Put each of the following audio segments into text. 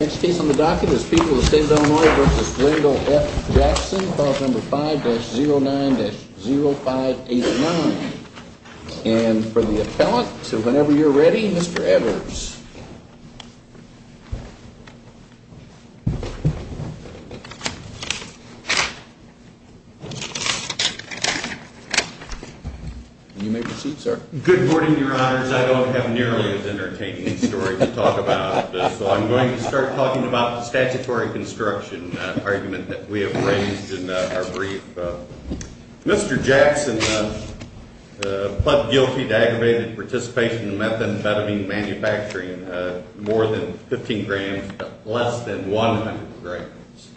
Next case on the docket is People of the State of Illinois v. Glendale F. Jackson, clause number 5-09-0589. And for the appellant, so whenever you're ready, Mr. Evers. You may proceed, sir. Good morning, Your Honors. I don't have nearly as entertaining a story to talk about, so I'm going to start talking about the statutory construction argument that we have raised in our brief. Mr. Jackson pled guilty to aggravated participation in methamphetamine manufacturing, more than 15 grams, less than 100 grams.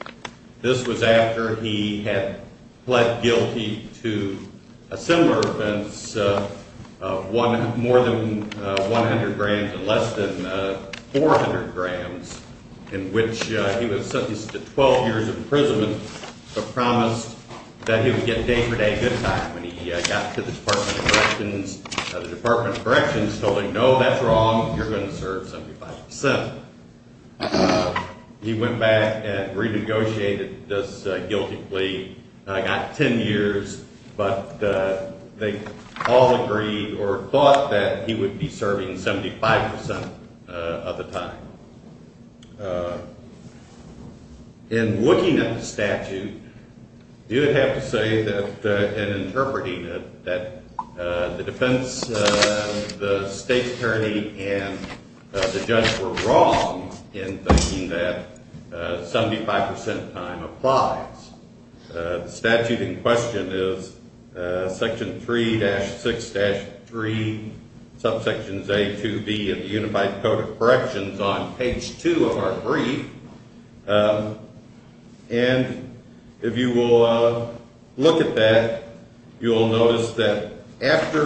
This was after he had pled guilty to a similar offense, more than 100 grams and less than 400 grams, in which he was sentenced to 12 years imprisonment, but promised that he would get day-for-day good time when he got to the Department of Corrections. The Department of Corrections told him, no, that's wrong, you're going to serve 75%. He went back and renegotiated this guilty plea, got 10 years, but they all agreed or thought that he would be serving 75% of the time. In looking at the statute, you would have to say that, in interpreting it, that the defense, the state attorney, and the judge were wrong in thinking that 75% of the time applies. The statute in question is Section 3-6-3, subsections A, 2B of the Unified Code of Corrections on page 2 of our brief. And if you will look at that, you will notice that after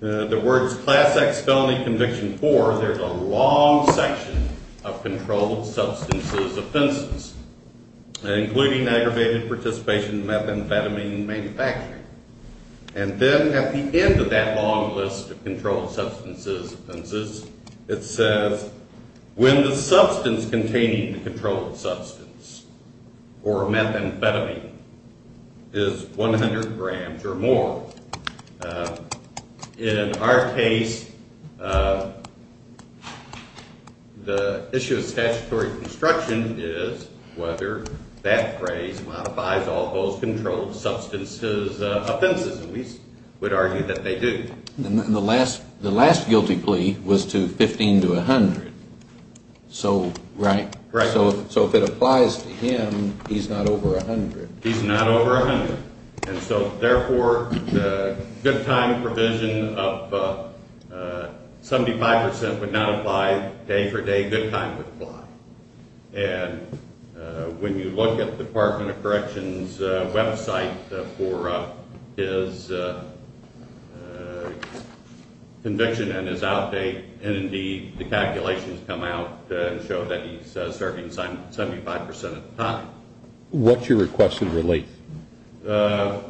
the words Class X Felony Conviction 4, there's a long section of controlled substances offenses, including aggravated participation in methamphetamine manufacturing. And then at the end of that long list of controlled substances offenses, it says, when the substance containing the controlled substance or methamphetamine is 100 grams or more. So in our case, the issue of statutory construction is whether that phrase modifies all those controlled substances offenses. And we would argue that they do. And the last guilty plea was to 15 to 100. Right. So if it applies to him, he's not over 100. He's not over 100. And so, therefore, the good time provision of 75% would not apply day for day. Good time would apply. And when you look at the Department of Corrections website for his conviction and his outdate, and indeed, the calculations come out and show that he's serving 75% of the time. What's your request of relief?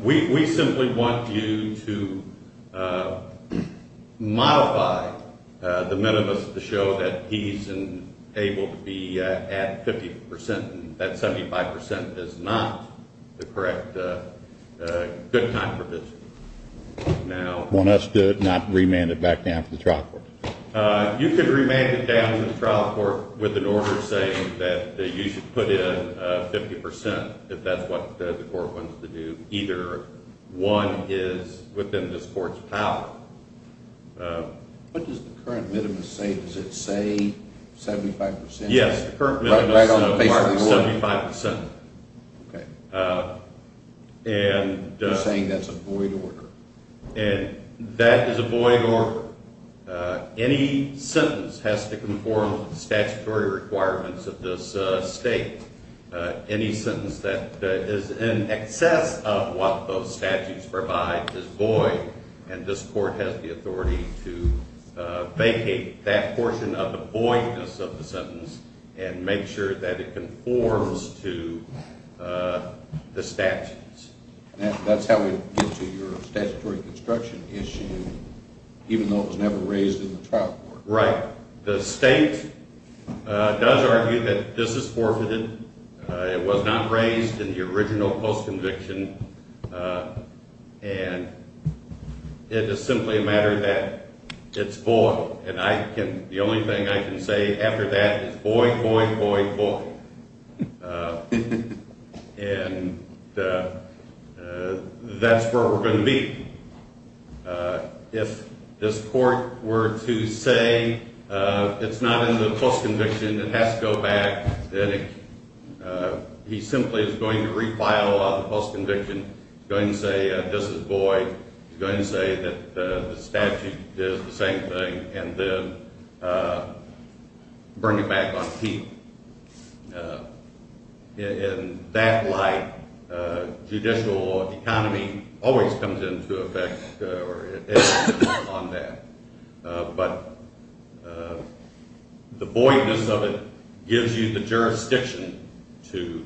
We simply want you to modify the minimus to show that he's able to be at 50% and that 75% is not the correct good time provision. Want us to not remand it back down to the trial court? You could remand it down to the trial court with an order saying that you should put in 50% if that's what the court wants to do. Either one is within this court's power. What does the current minimus say? Does it say 75%? Yes, the current minimus says 75%. Okay. You're saying that's a void order? And that is a void order. Any sentence has to conform to the statutory requirements of this state. Any sentence that is in excess of what those statutes provide is void. And this court has the authority to vacate that portion of the voidness of the sentence and make sure that it conforms to the statutes. That's how we get to your statutory construction issue, even though it was never raised in the trial court. Right. The state does argue that this is forfeited. It was not raised in the original post-conviction. And it is simply a matter that it's void. And the only thing I can say after that is void, void, void, void. And that's where we're going to be. If this court were to say it's not in the post-conviction, it has to go back, then he simply is going to refile the post-conviction. He's going to say this is void. He's going to say that the statute did the same thing and then bring it back on keep. And in that light, judicial economy always comes into effect on that. But the voidness of it gives you the jurisdiction to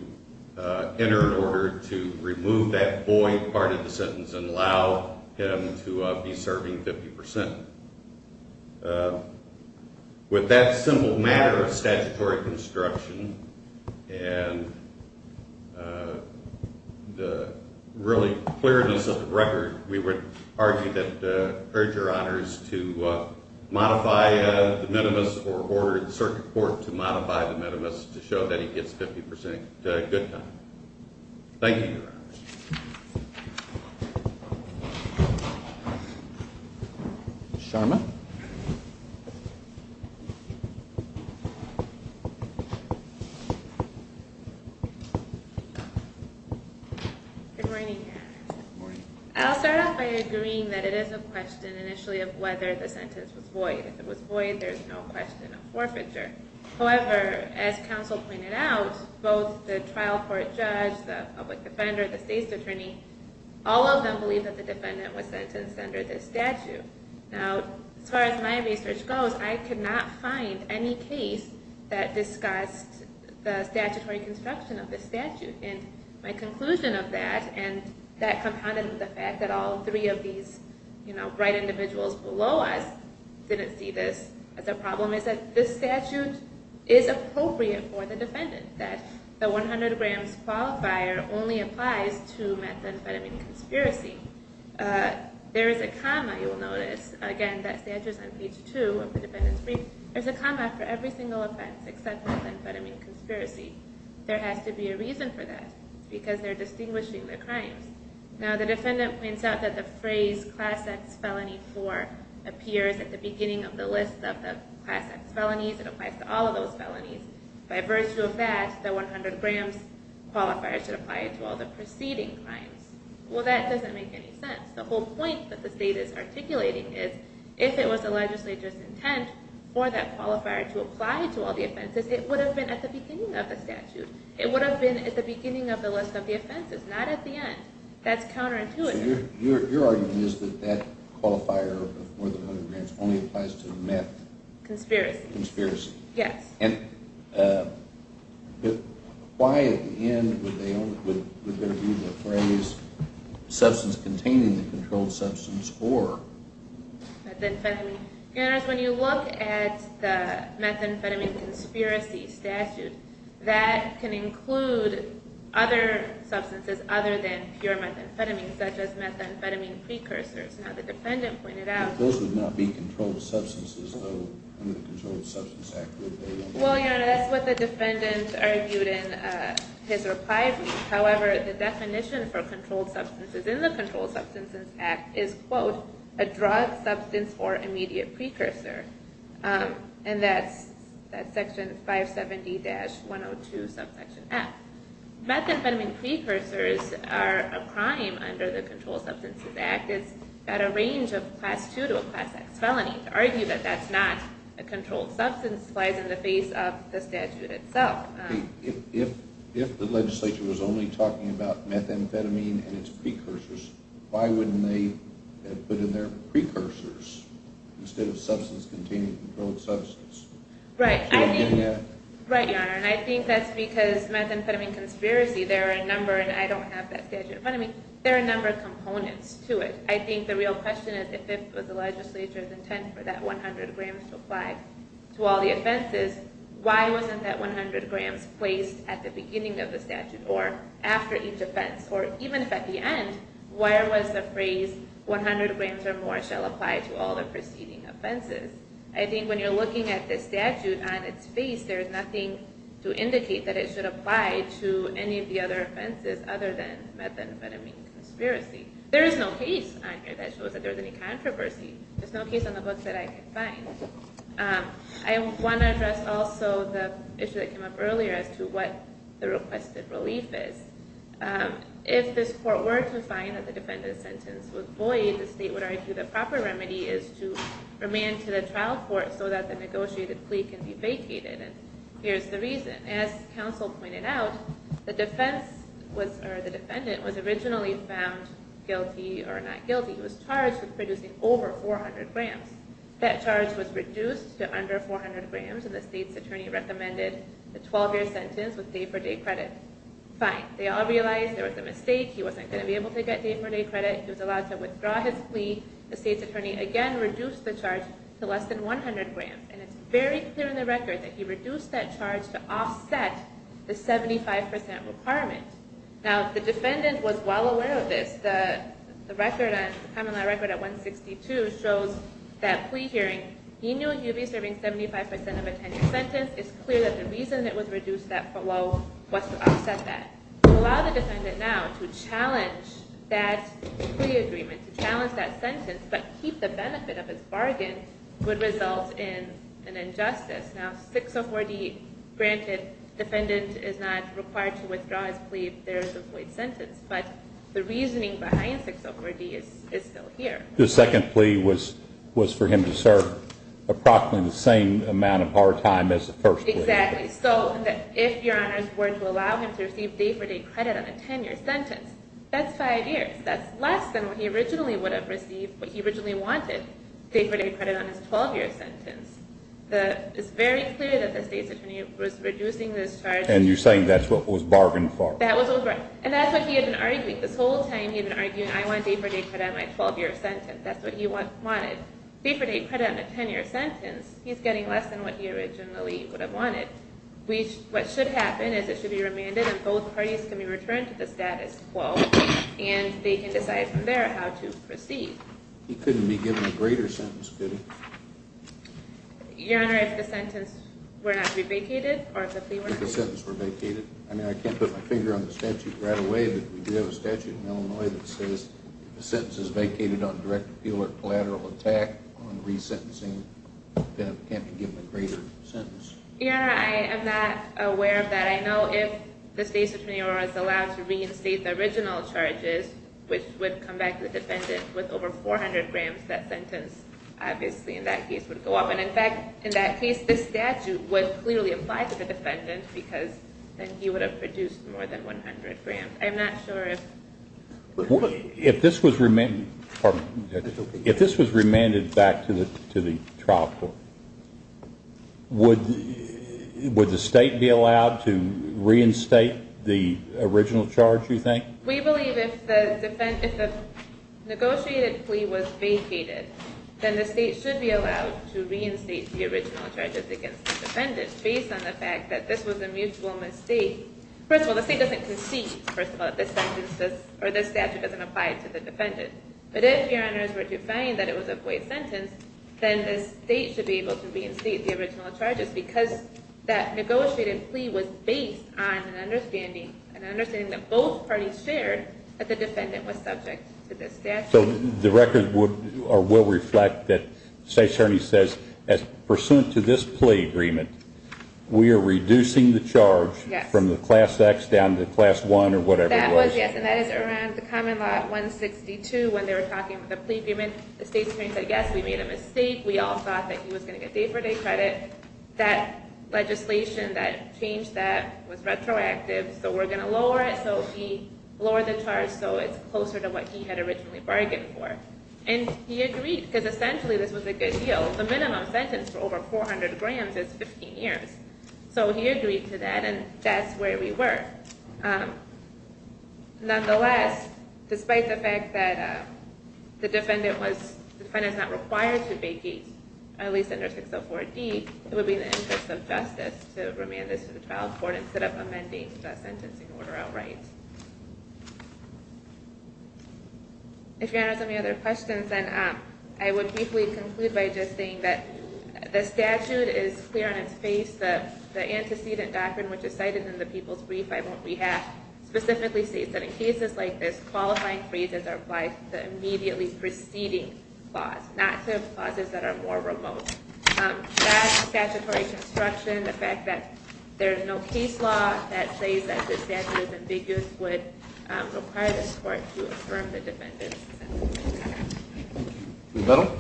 enter in order to remove that void part of the sentence and allow him to be serving 50%. With that simple matter of statutory construction and the really clearness of the record, we would argue that, urge your honors to modify the minimus or order the circuit court to modify the minimus to show that he gets 50% good time. Thank you, your honors. Good morning. I'll start off by agreeing that it is a question initially of whether the sentence was void. If it was void, there's no question of forfeiture. However, as counsel pointed out, both the trial court judge, the public defender, the state attorney, all of them believe that the defendant was sentenced under this statute. Now, as far as my research goes, I could not find any case that discussed the statutory construction of the statute. My conclusion of that, and that compounded with the fact that all three of these bright individuals below us didn't see this as a problem, is that this statute is appropriate for the defendant, that the 100 grams qualifier only applies to methamphetamine conspiracy. There is a comma, you will notice, again, that statute is on page two of the defendant's brief. There's a comma for every single offense except methamphetamine conspiracy. There has to be a reason for that, because they're distinguishing the crimes. Now, the defendant points out that the phrase class X felony four appears at the beginning of the list of the class X felonies. It applies to all of those felonies. By virtue of that, the 100 grams qualifier should apply to all the preceding crimes. Well, that doesn't make any sense. The whole point that the state is articulating is, if it was the legislature's intent for that qualifier to apply to all the offenses, it would have been at the beginning of the statute. It would have been at the beginning of the list of the offenses, not at the end. That's counterintuitive. So your argument is that that qualifier of more than 100 grams only applies to meth... Conspiracy. Conspiracy. Yes. And why, at the end, would there be the phrase substance containing the controlled substance or... Methamphetamine. Your Honor, when you look at the methamphetamine conspiracy statute, that can include other substances other than pure methamphetamine, such as methamphetamine precursors. Now, the defendant pointed out... Those would not be controlled substances, though, under the Controlled Substances Act. Well, Your Honor, that's what the defendant argued in his reply brief. However, the definition for controlled substances in the Controlled Substances Act is, quote, a drug, substance, or immediate precursor. And that's Section 570-102, subsection F. Methamphetamine precursors are a crime under the Controlled Substances Act. It's got a range of Class II to a Class X felony. To argue that that's not a controlled substance lies in the face of the statute itself. If the legislature was only talking about methamphetamine and its precursors, why wouldn't they have put in there precursors instead of substance containing controlled substances? Right, Your Honor. And I think that's because methamphetamine conspiracy, there are a number, and I don't have that statute in front of me, there are a number of components to it. I think the real question is if it was the legislature's intent for that 100 grams to apply to all the offenses, why wasn't that 100 grams placed at the beginning of the statute or after each offense? Or even if at the end, why was the phrase 100 grams or more shall apply to all the preceding offenses? I think when you're looking at the statute on its face, there's nothing to indicate that it should apply to any of the other offenses other than methamphetamine conspiracy. There is no case on here that shows that there's any controversy. There's no case on the books that I can find. I want to address also the issue that came up earlier as to what the requested relief is. If this court were to find that the defendant's sentence was void, the state would argue the proper remedy is to remand to the trial court so that the negotiated plea can be vacated. And here's the reason. As counsel pointed out, the defendant was originally found guilty or not guilty. He was charged with producing over 400 grams. That charge was reduced to under 400 grams. And the state's attorney recommended the 12-year sentence with day-for-day credit. Fine. They all realized there was a mistake. He wasn't going to be able to get day-for-day credit. He was allowed to withdraw his plea. The state's attorney again reduced the charge to less than 100 grams. And it's very clear in the record that he reduced that charge to offset the 75% requirement. Now, the defendant was well aware of this. The common law record at 162 shows that plea hearing, he knew he would be serving 75% of a 10-year sentence. It's clear that the reason it was reduced that low was to offset that. To allow the defendant now to challenge that plea agreement, to challenge that sentence, but keep the benefit of his bargain would result in an injustice. Now, 604D, granted, defendant is not required to withdraw his plea if there is a void sentence. But the reasoning behind 604D is still here. The second plea was for him to serve approximately the same amount of part-time as the first plea. Exactly. So, if your honors were to allow him to receive day-for-day credit on a 10-year sentence, that's five years. That's less than what he originally would have received, what he originally wanted, day-for-day credit on his 12-year sentence. It's very clear that the state's attorney was reducing this charge. And you're saying that's what was bargained for? That was over. And that's what he had been arguing this whole time. He had been arguing, I want day-for-day credit on my 12-year sentence. That's what he wanted. Day-for-day credit on a 10-year sentence, he's getting less than what he originally would have wanted. What should happen is it should be remanded and both parties can be returned to the status quo. And they can decide from there how to proceed. He couldn't be given a greater sentence, could he? Your honor, if the sentence were not to be vacated, or if the plea were not to be vacated. If the sentence were vacated? I mean, I can't put my finger on the statute right away, but we do have a statute in Illinois that says if a sentence is vacated on direct or collateral attack, on resentencing, the defendant can't be given a greater sentence. Your honor, I am not aware of that. I know if the state's attorney was allowed to reinstate the original charges, which would come back to the defendant with over 400 grams, that sentence, obviously in that case, would go up. And in fact, in that case, this statute would clearly apply to the defendant because then he would have produced more than 100 grams. I'm not sure if... If this was remanded back to the trial court, would the state be allowed to reinstate the original charge, you think? We believe if the negotiated plea was vacated, then the state should be allowed to reinstate the original charges against the defendant based on the fact that this was a mutual mistake. First of all, the state doesn't concede, first of all, that this statute doesn't apply to the defendant. But if your honors were to find that it was a void sentence, then the state should be able to reinstate the original charges because that negotiated plea was based on an understanding, an understanding that both parties shared that the defendant was subject to this statute. So the record will reflect that the state attorney says, as pursuant to this plea agreement, we are reducing the charge from the Class X down to Class I or whatever it was. That was, yes, and that is around the Common Law 162 when they were talking about the plea agreement. The state attorney said, yes, we made a mistake. We all thought that he was going to get day-for-day credit. That legislation that changed that was retroactive, so we're going to lower it. So he lowered the charge so it's closer to what he had originally bargained for. And he agreed, because essentially this was a good deal. The minimum sentence for over 400 grams is 15 years. So he agreed to that, and that's where we were. Nonetheless, despite the fact that the defendant was, the defendant's not required to vacate, at least under 604D, it would be in the interest of justice to remand this to the trial court instead of amending the sentencing order outright. If you have any other questions, then I would briefly conclude by just saying that the statute is clear on its face. The antecedent doctrine, which is cited in the People's Brief I won't rehash, specifically states that in cases like this, qualifying freezes are applied to immediately preceding flaws, not to clauses that are more remote. That statutory construction, the fact that there's no case law that says that the statute is ambiguous would require the court to affirm the defendant's sentencing. The medal.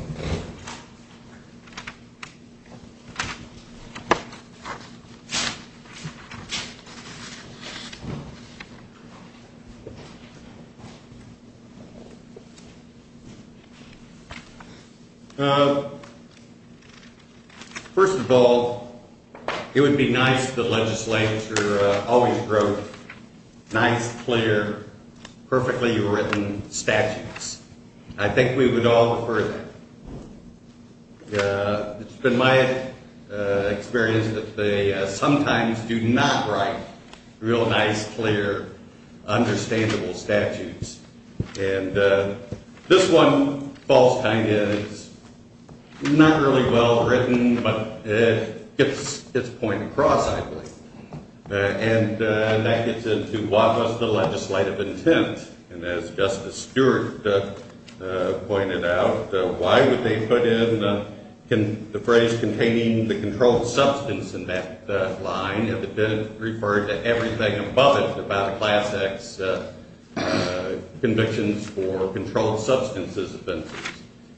First of all, it would be nice if the legislature always wrote nice, clear, perfectly written statutes. I think we would all prefer that. It's been my experience that they sometimes do not write real nice, clear, understandable statutes. And this one falls kind of in. It's not really well written, but it gets its point across, I believe. And that gets into, what was the legislative intent? And as Justice Stewart pointed out, why would they put in the phrase containing the controlled substance in that line if it didn't refer to everything above it about Class X convictions for controlled substances offenses?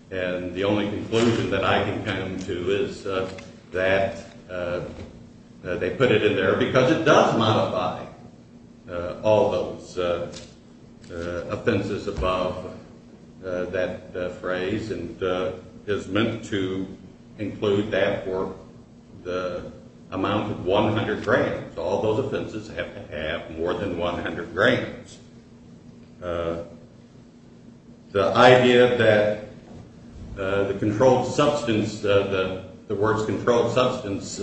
And the only conclusion that I can come to is that they put it in there because it does modify all those offenses above that phrase and is meant to include that for the amount of 100 grams. All those offenses have to have more than 100 grams. The idea that the controlled substance, the words controlled substance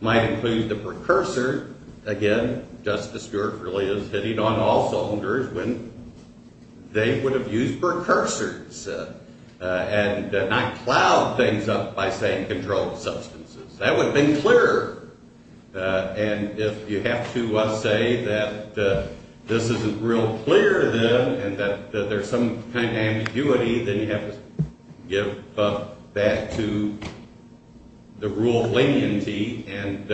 might include the precursor, again, Justice Stewart really is hitting on all soldiers when they would have used precursors and not plowed things up by saying controlled substances. That would have been clearer. And if you have to say that this isn't real clear to them and that there's some kind of ambiguity, then you have to give that to the rule of leniency and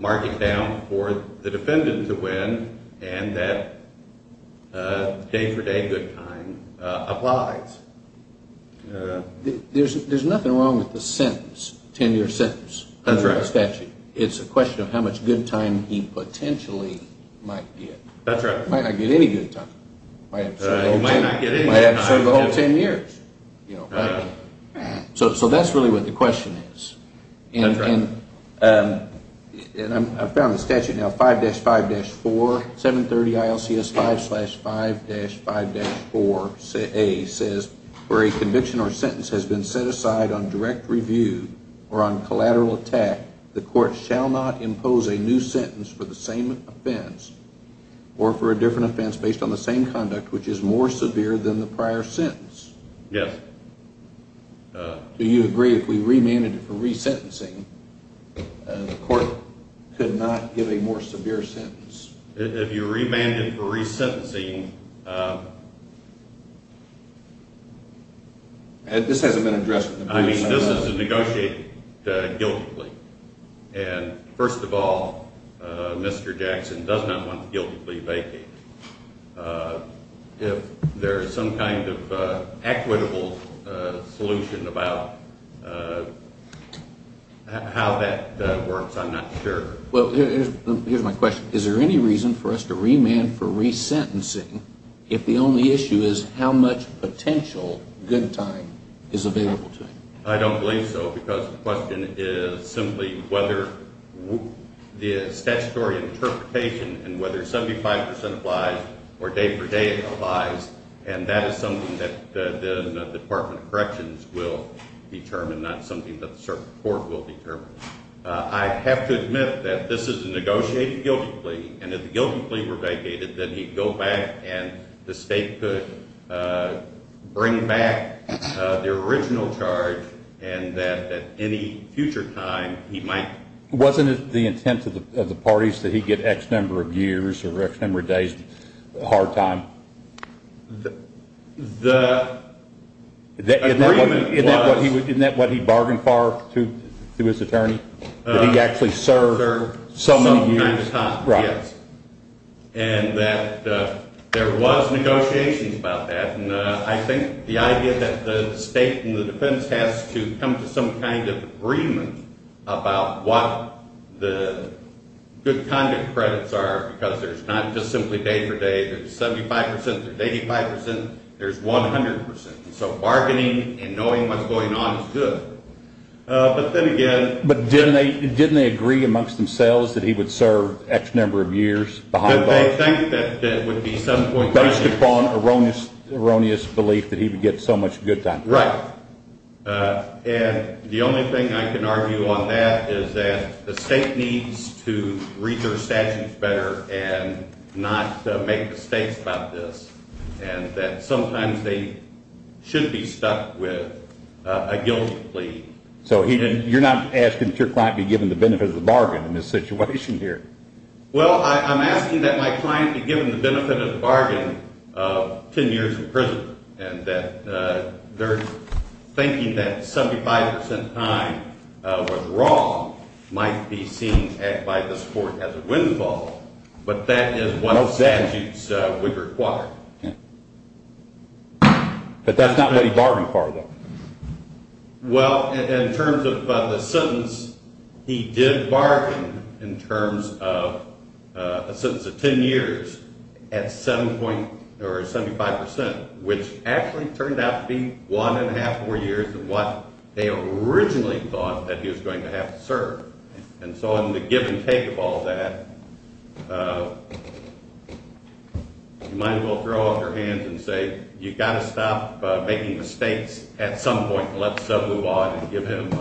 mark it down for the defendant to win and that day-for-day good time applies. There's nothing wrong with the sentence, 10-year sentence under the statute. It's a question of how much good time he potentially might get. That's right. He might not get any good time. He might not get any good time. He might have to serve the whole 10 years. So that's really what the question is. That's right. And I found the statute now, 5-5-4, 730 ILCS 5-5-5-4A says, where a conviction or sentence has been set aside on direct review or on collateral attack, the court shall not impose a new sentence for the same offense or for a different offense based on the same conduct which is more severe than the prior sentence. Yes. Do you agree if we remanded it for resentencing, the court could not give a more severe sentence? If you remanded it for resentencing... This hasn't been addressed in the past. I mean, this is negotiated guiltily. And first of all, Mr. Jackson does not want guiltily vacated. If there is some kind of equitable solution about how that works, I'm not sure. Well, here's my question. Is there any reason for us to remand for resentencing if the only issue is how much potential good time is available to him? I don't believe so because the question is simply whether the statutory interpretation and whether 75% applies or day-for-day applies, and that is something that the Department of Corrections will determine, not something that the circuit court will determine. I have to admit that this is a negotiated guilty plea, and if the guilty plea were vacated, then he'd go back and the state could bring back the original charge, and that at any future time, he might... Wasn't it the intent of the parties that he get X number of years or X number of days hard time? The agreement was... Isn't that what he bargained for to his attorney, that he actually served so many years? Some kind of time, yes. And that there was negotiations about that, and I think the idea that the state and the defense has to come to some kind of agreement about what the good conduct credits are because there's not just simply day-for-day. There's 75%, there's 85%, there's 100%. So bargaining and knowing what's going on is good. But then again... But didn't they agree amongst themselves that he would serve X number of years behind bars? They think that would be some point... Based upon erroneous belief that he would get so much good time. Right, and the only thing I can argue on that is that the state needs to read their statutes better and not make mistakes about this, and that sometimes they should be stuck with a guilty plea. So you're not asking that your client be given the benefit of the bargain for 10 years in prison? Well, I'm asking that my client be given the benefit of the bargain of 10 years in prison, and that they're thinking that 75% time was wrong might be seen by this court as a windfall, but that is what the statutes would require. But that's not what he bargained for, though. Well, in terms of the sentence, he did bargain in terms of a sentence of 10 years at 75%, which actually turned out to be one and a half more years than what they originally thought that he was going to have to serve. And so in the give and take of all that, you might as well throw out your hands and say, you've got to stop making mistakes at some point and let's move on and give him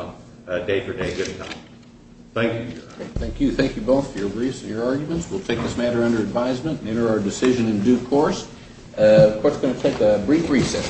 a day-for-day good time. Thank you, Your Honor. Thank you. Thank you both for your arguments. We'll take this matter under advisement and enter our decision in due course. Court's going to take a brief recess.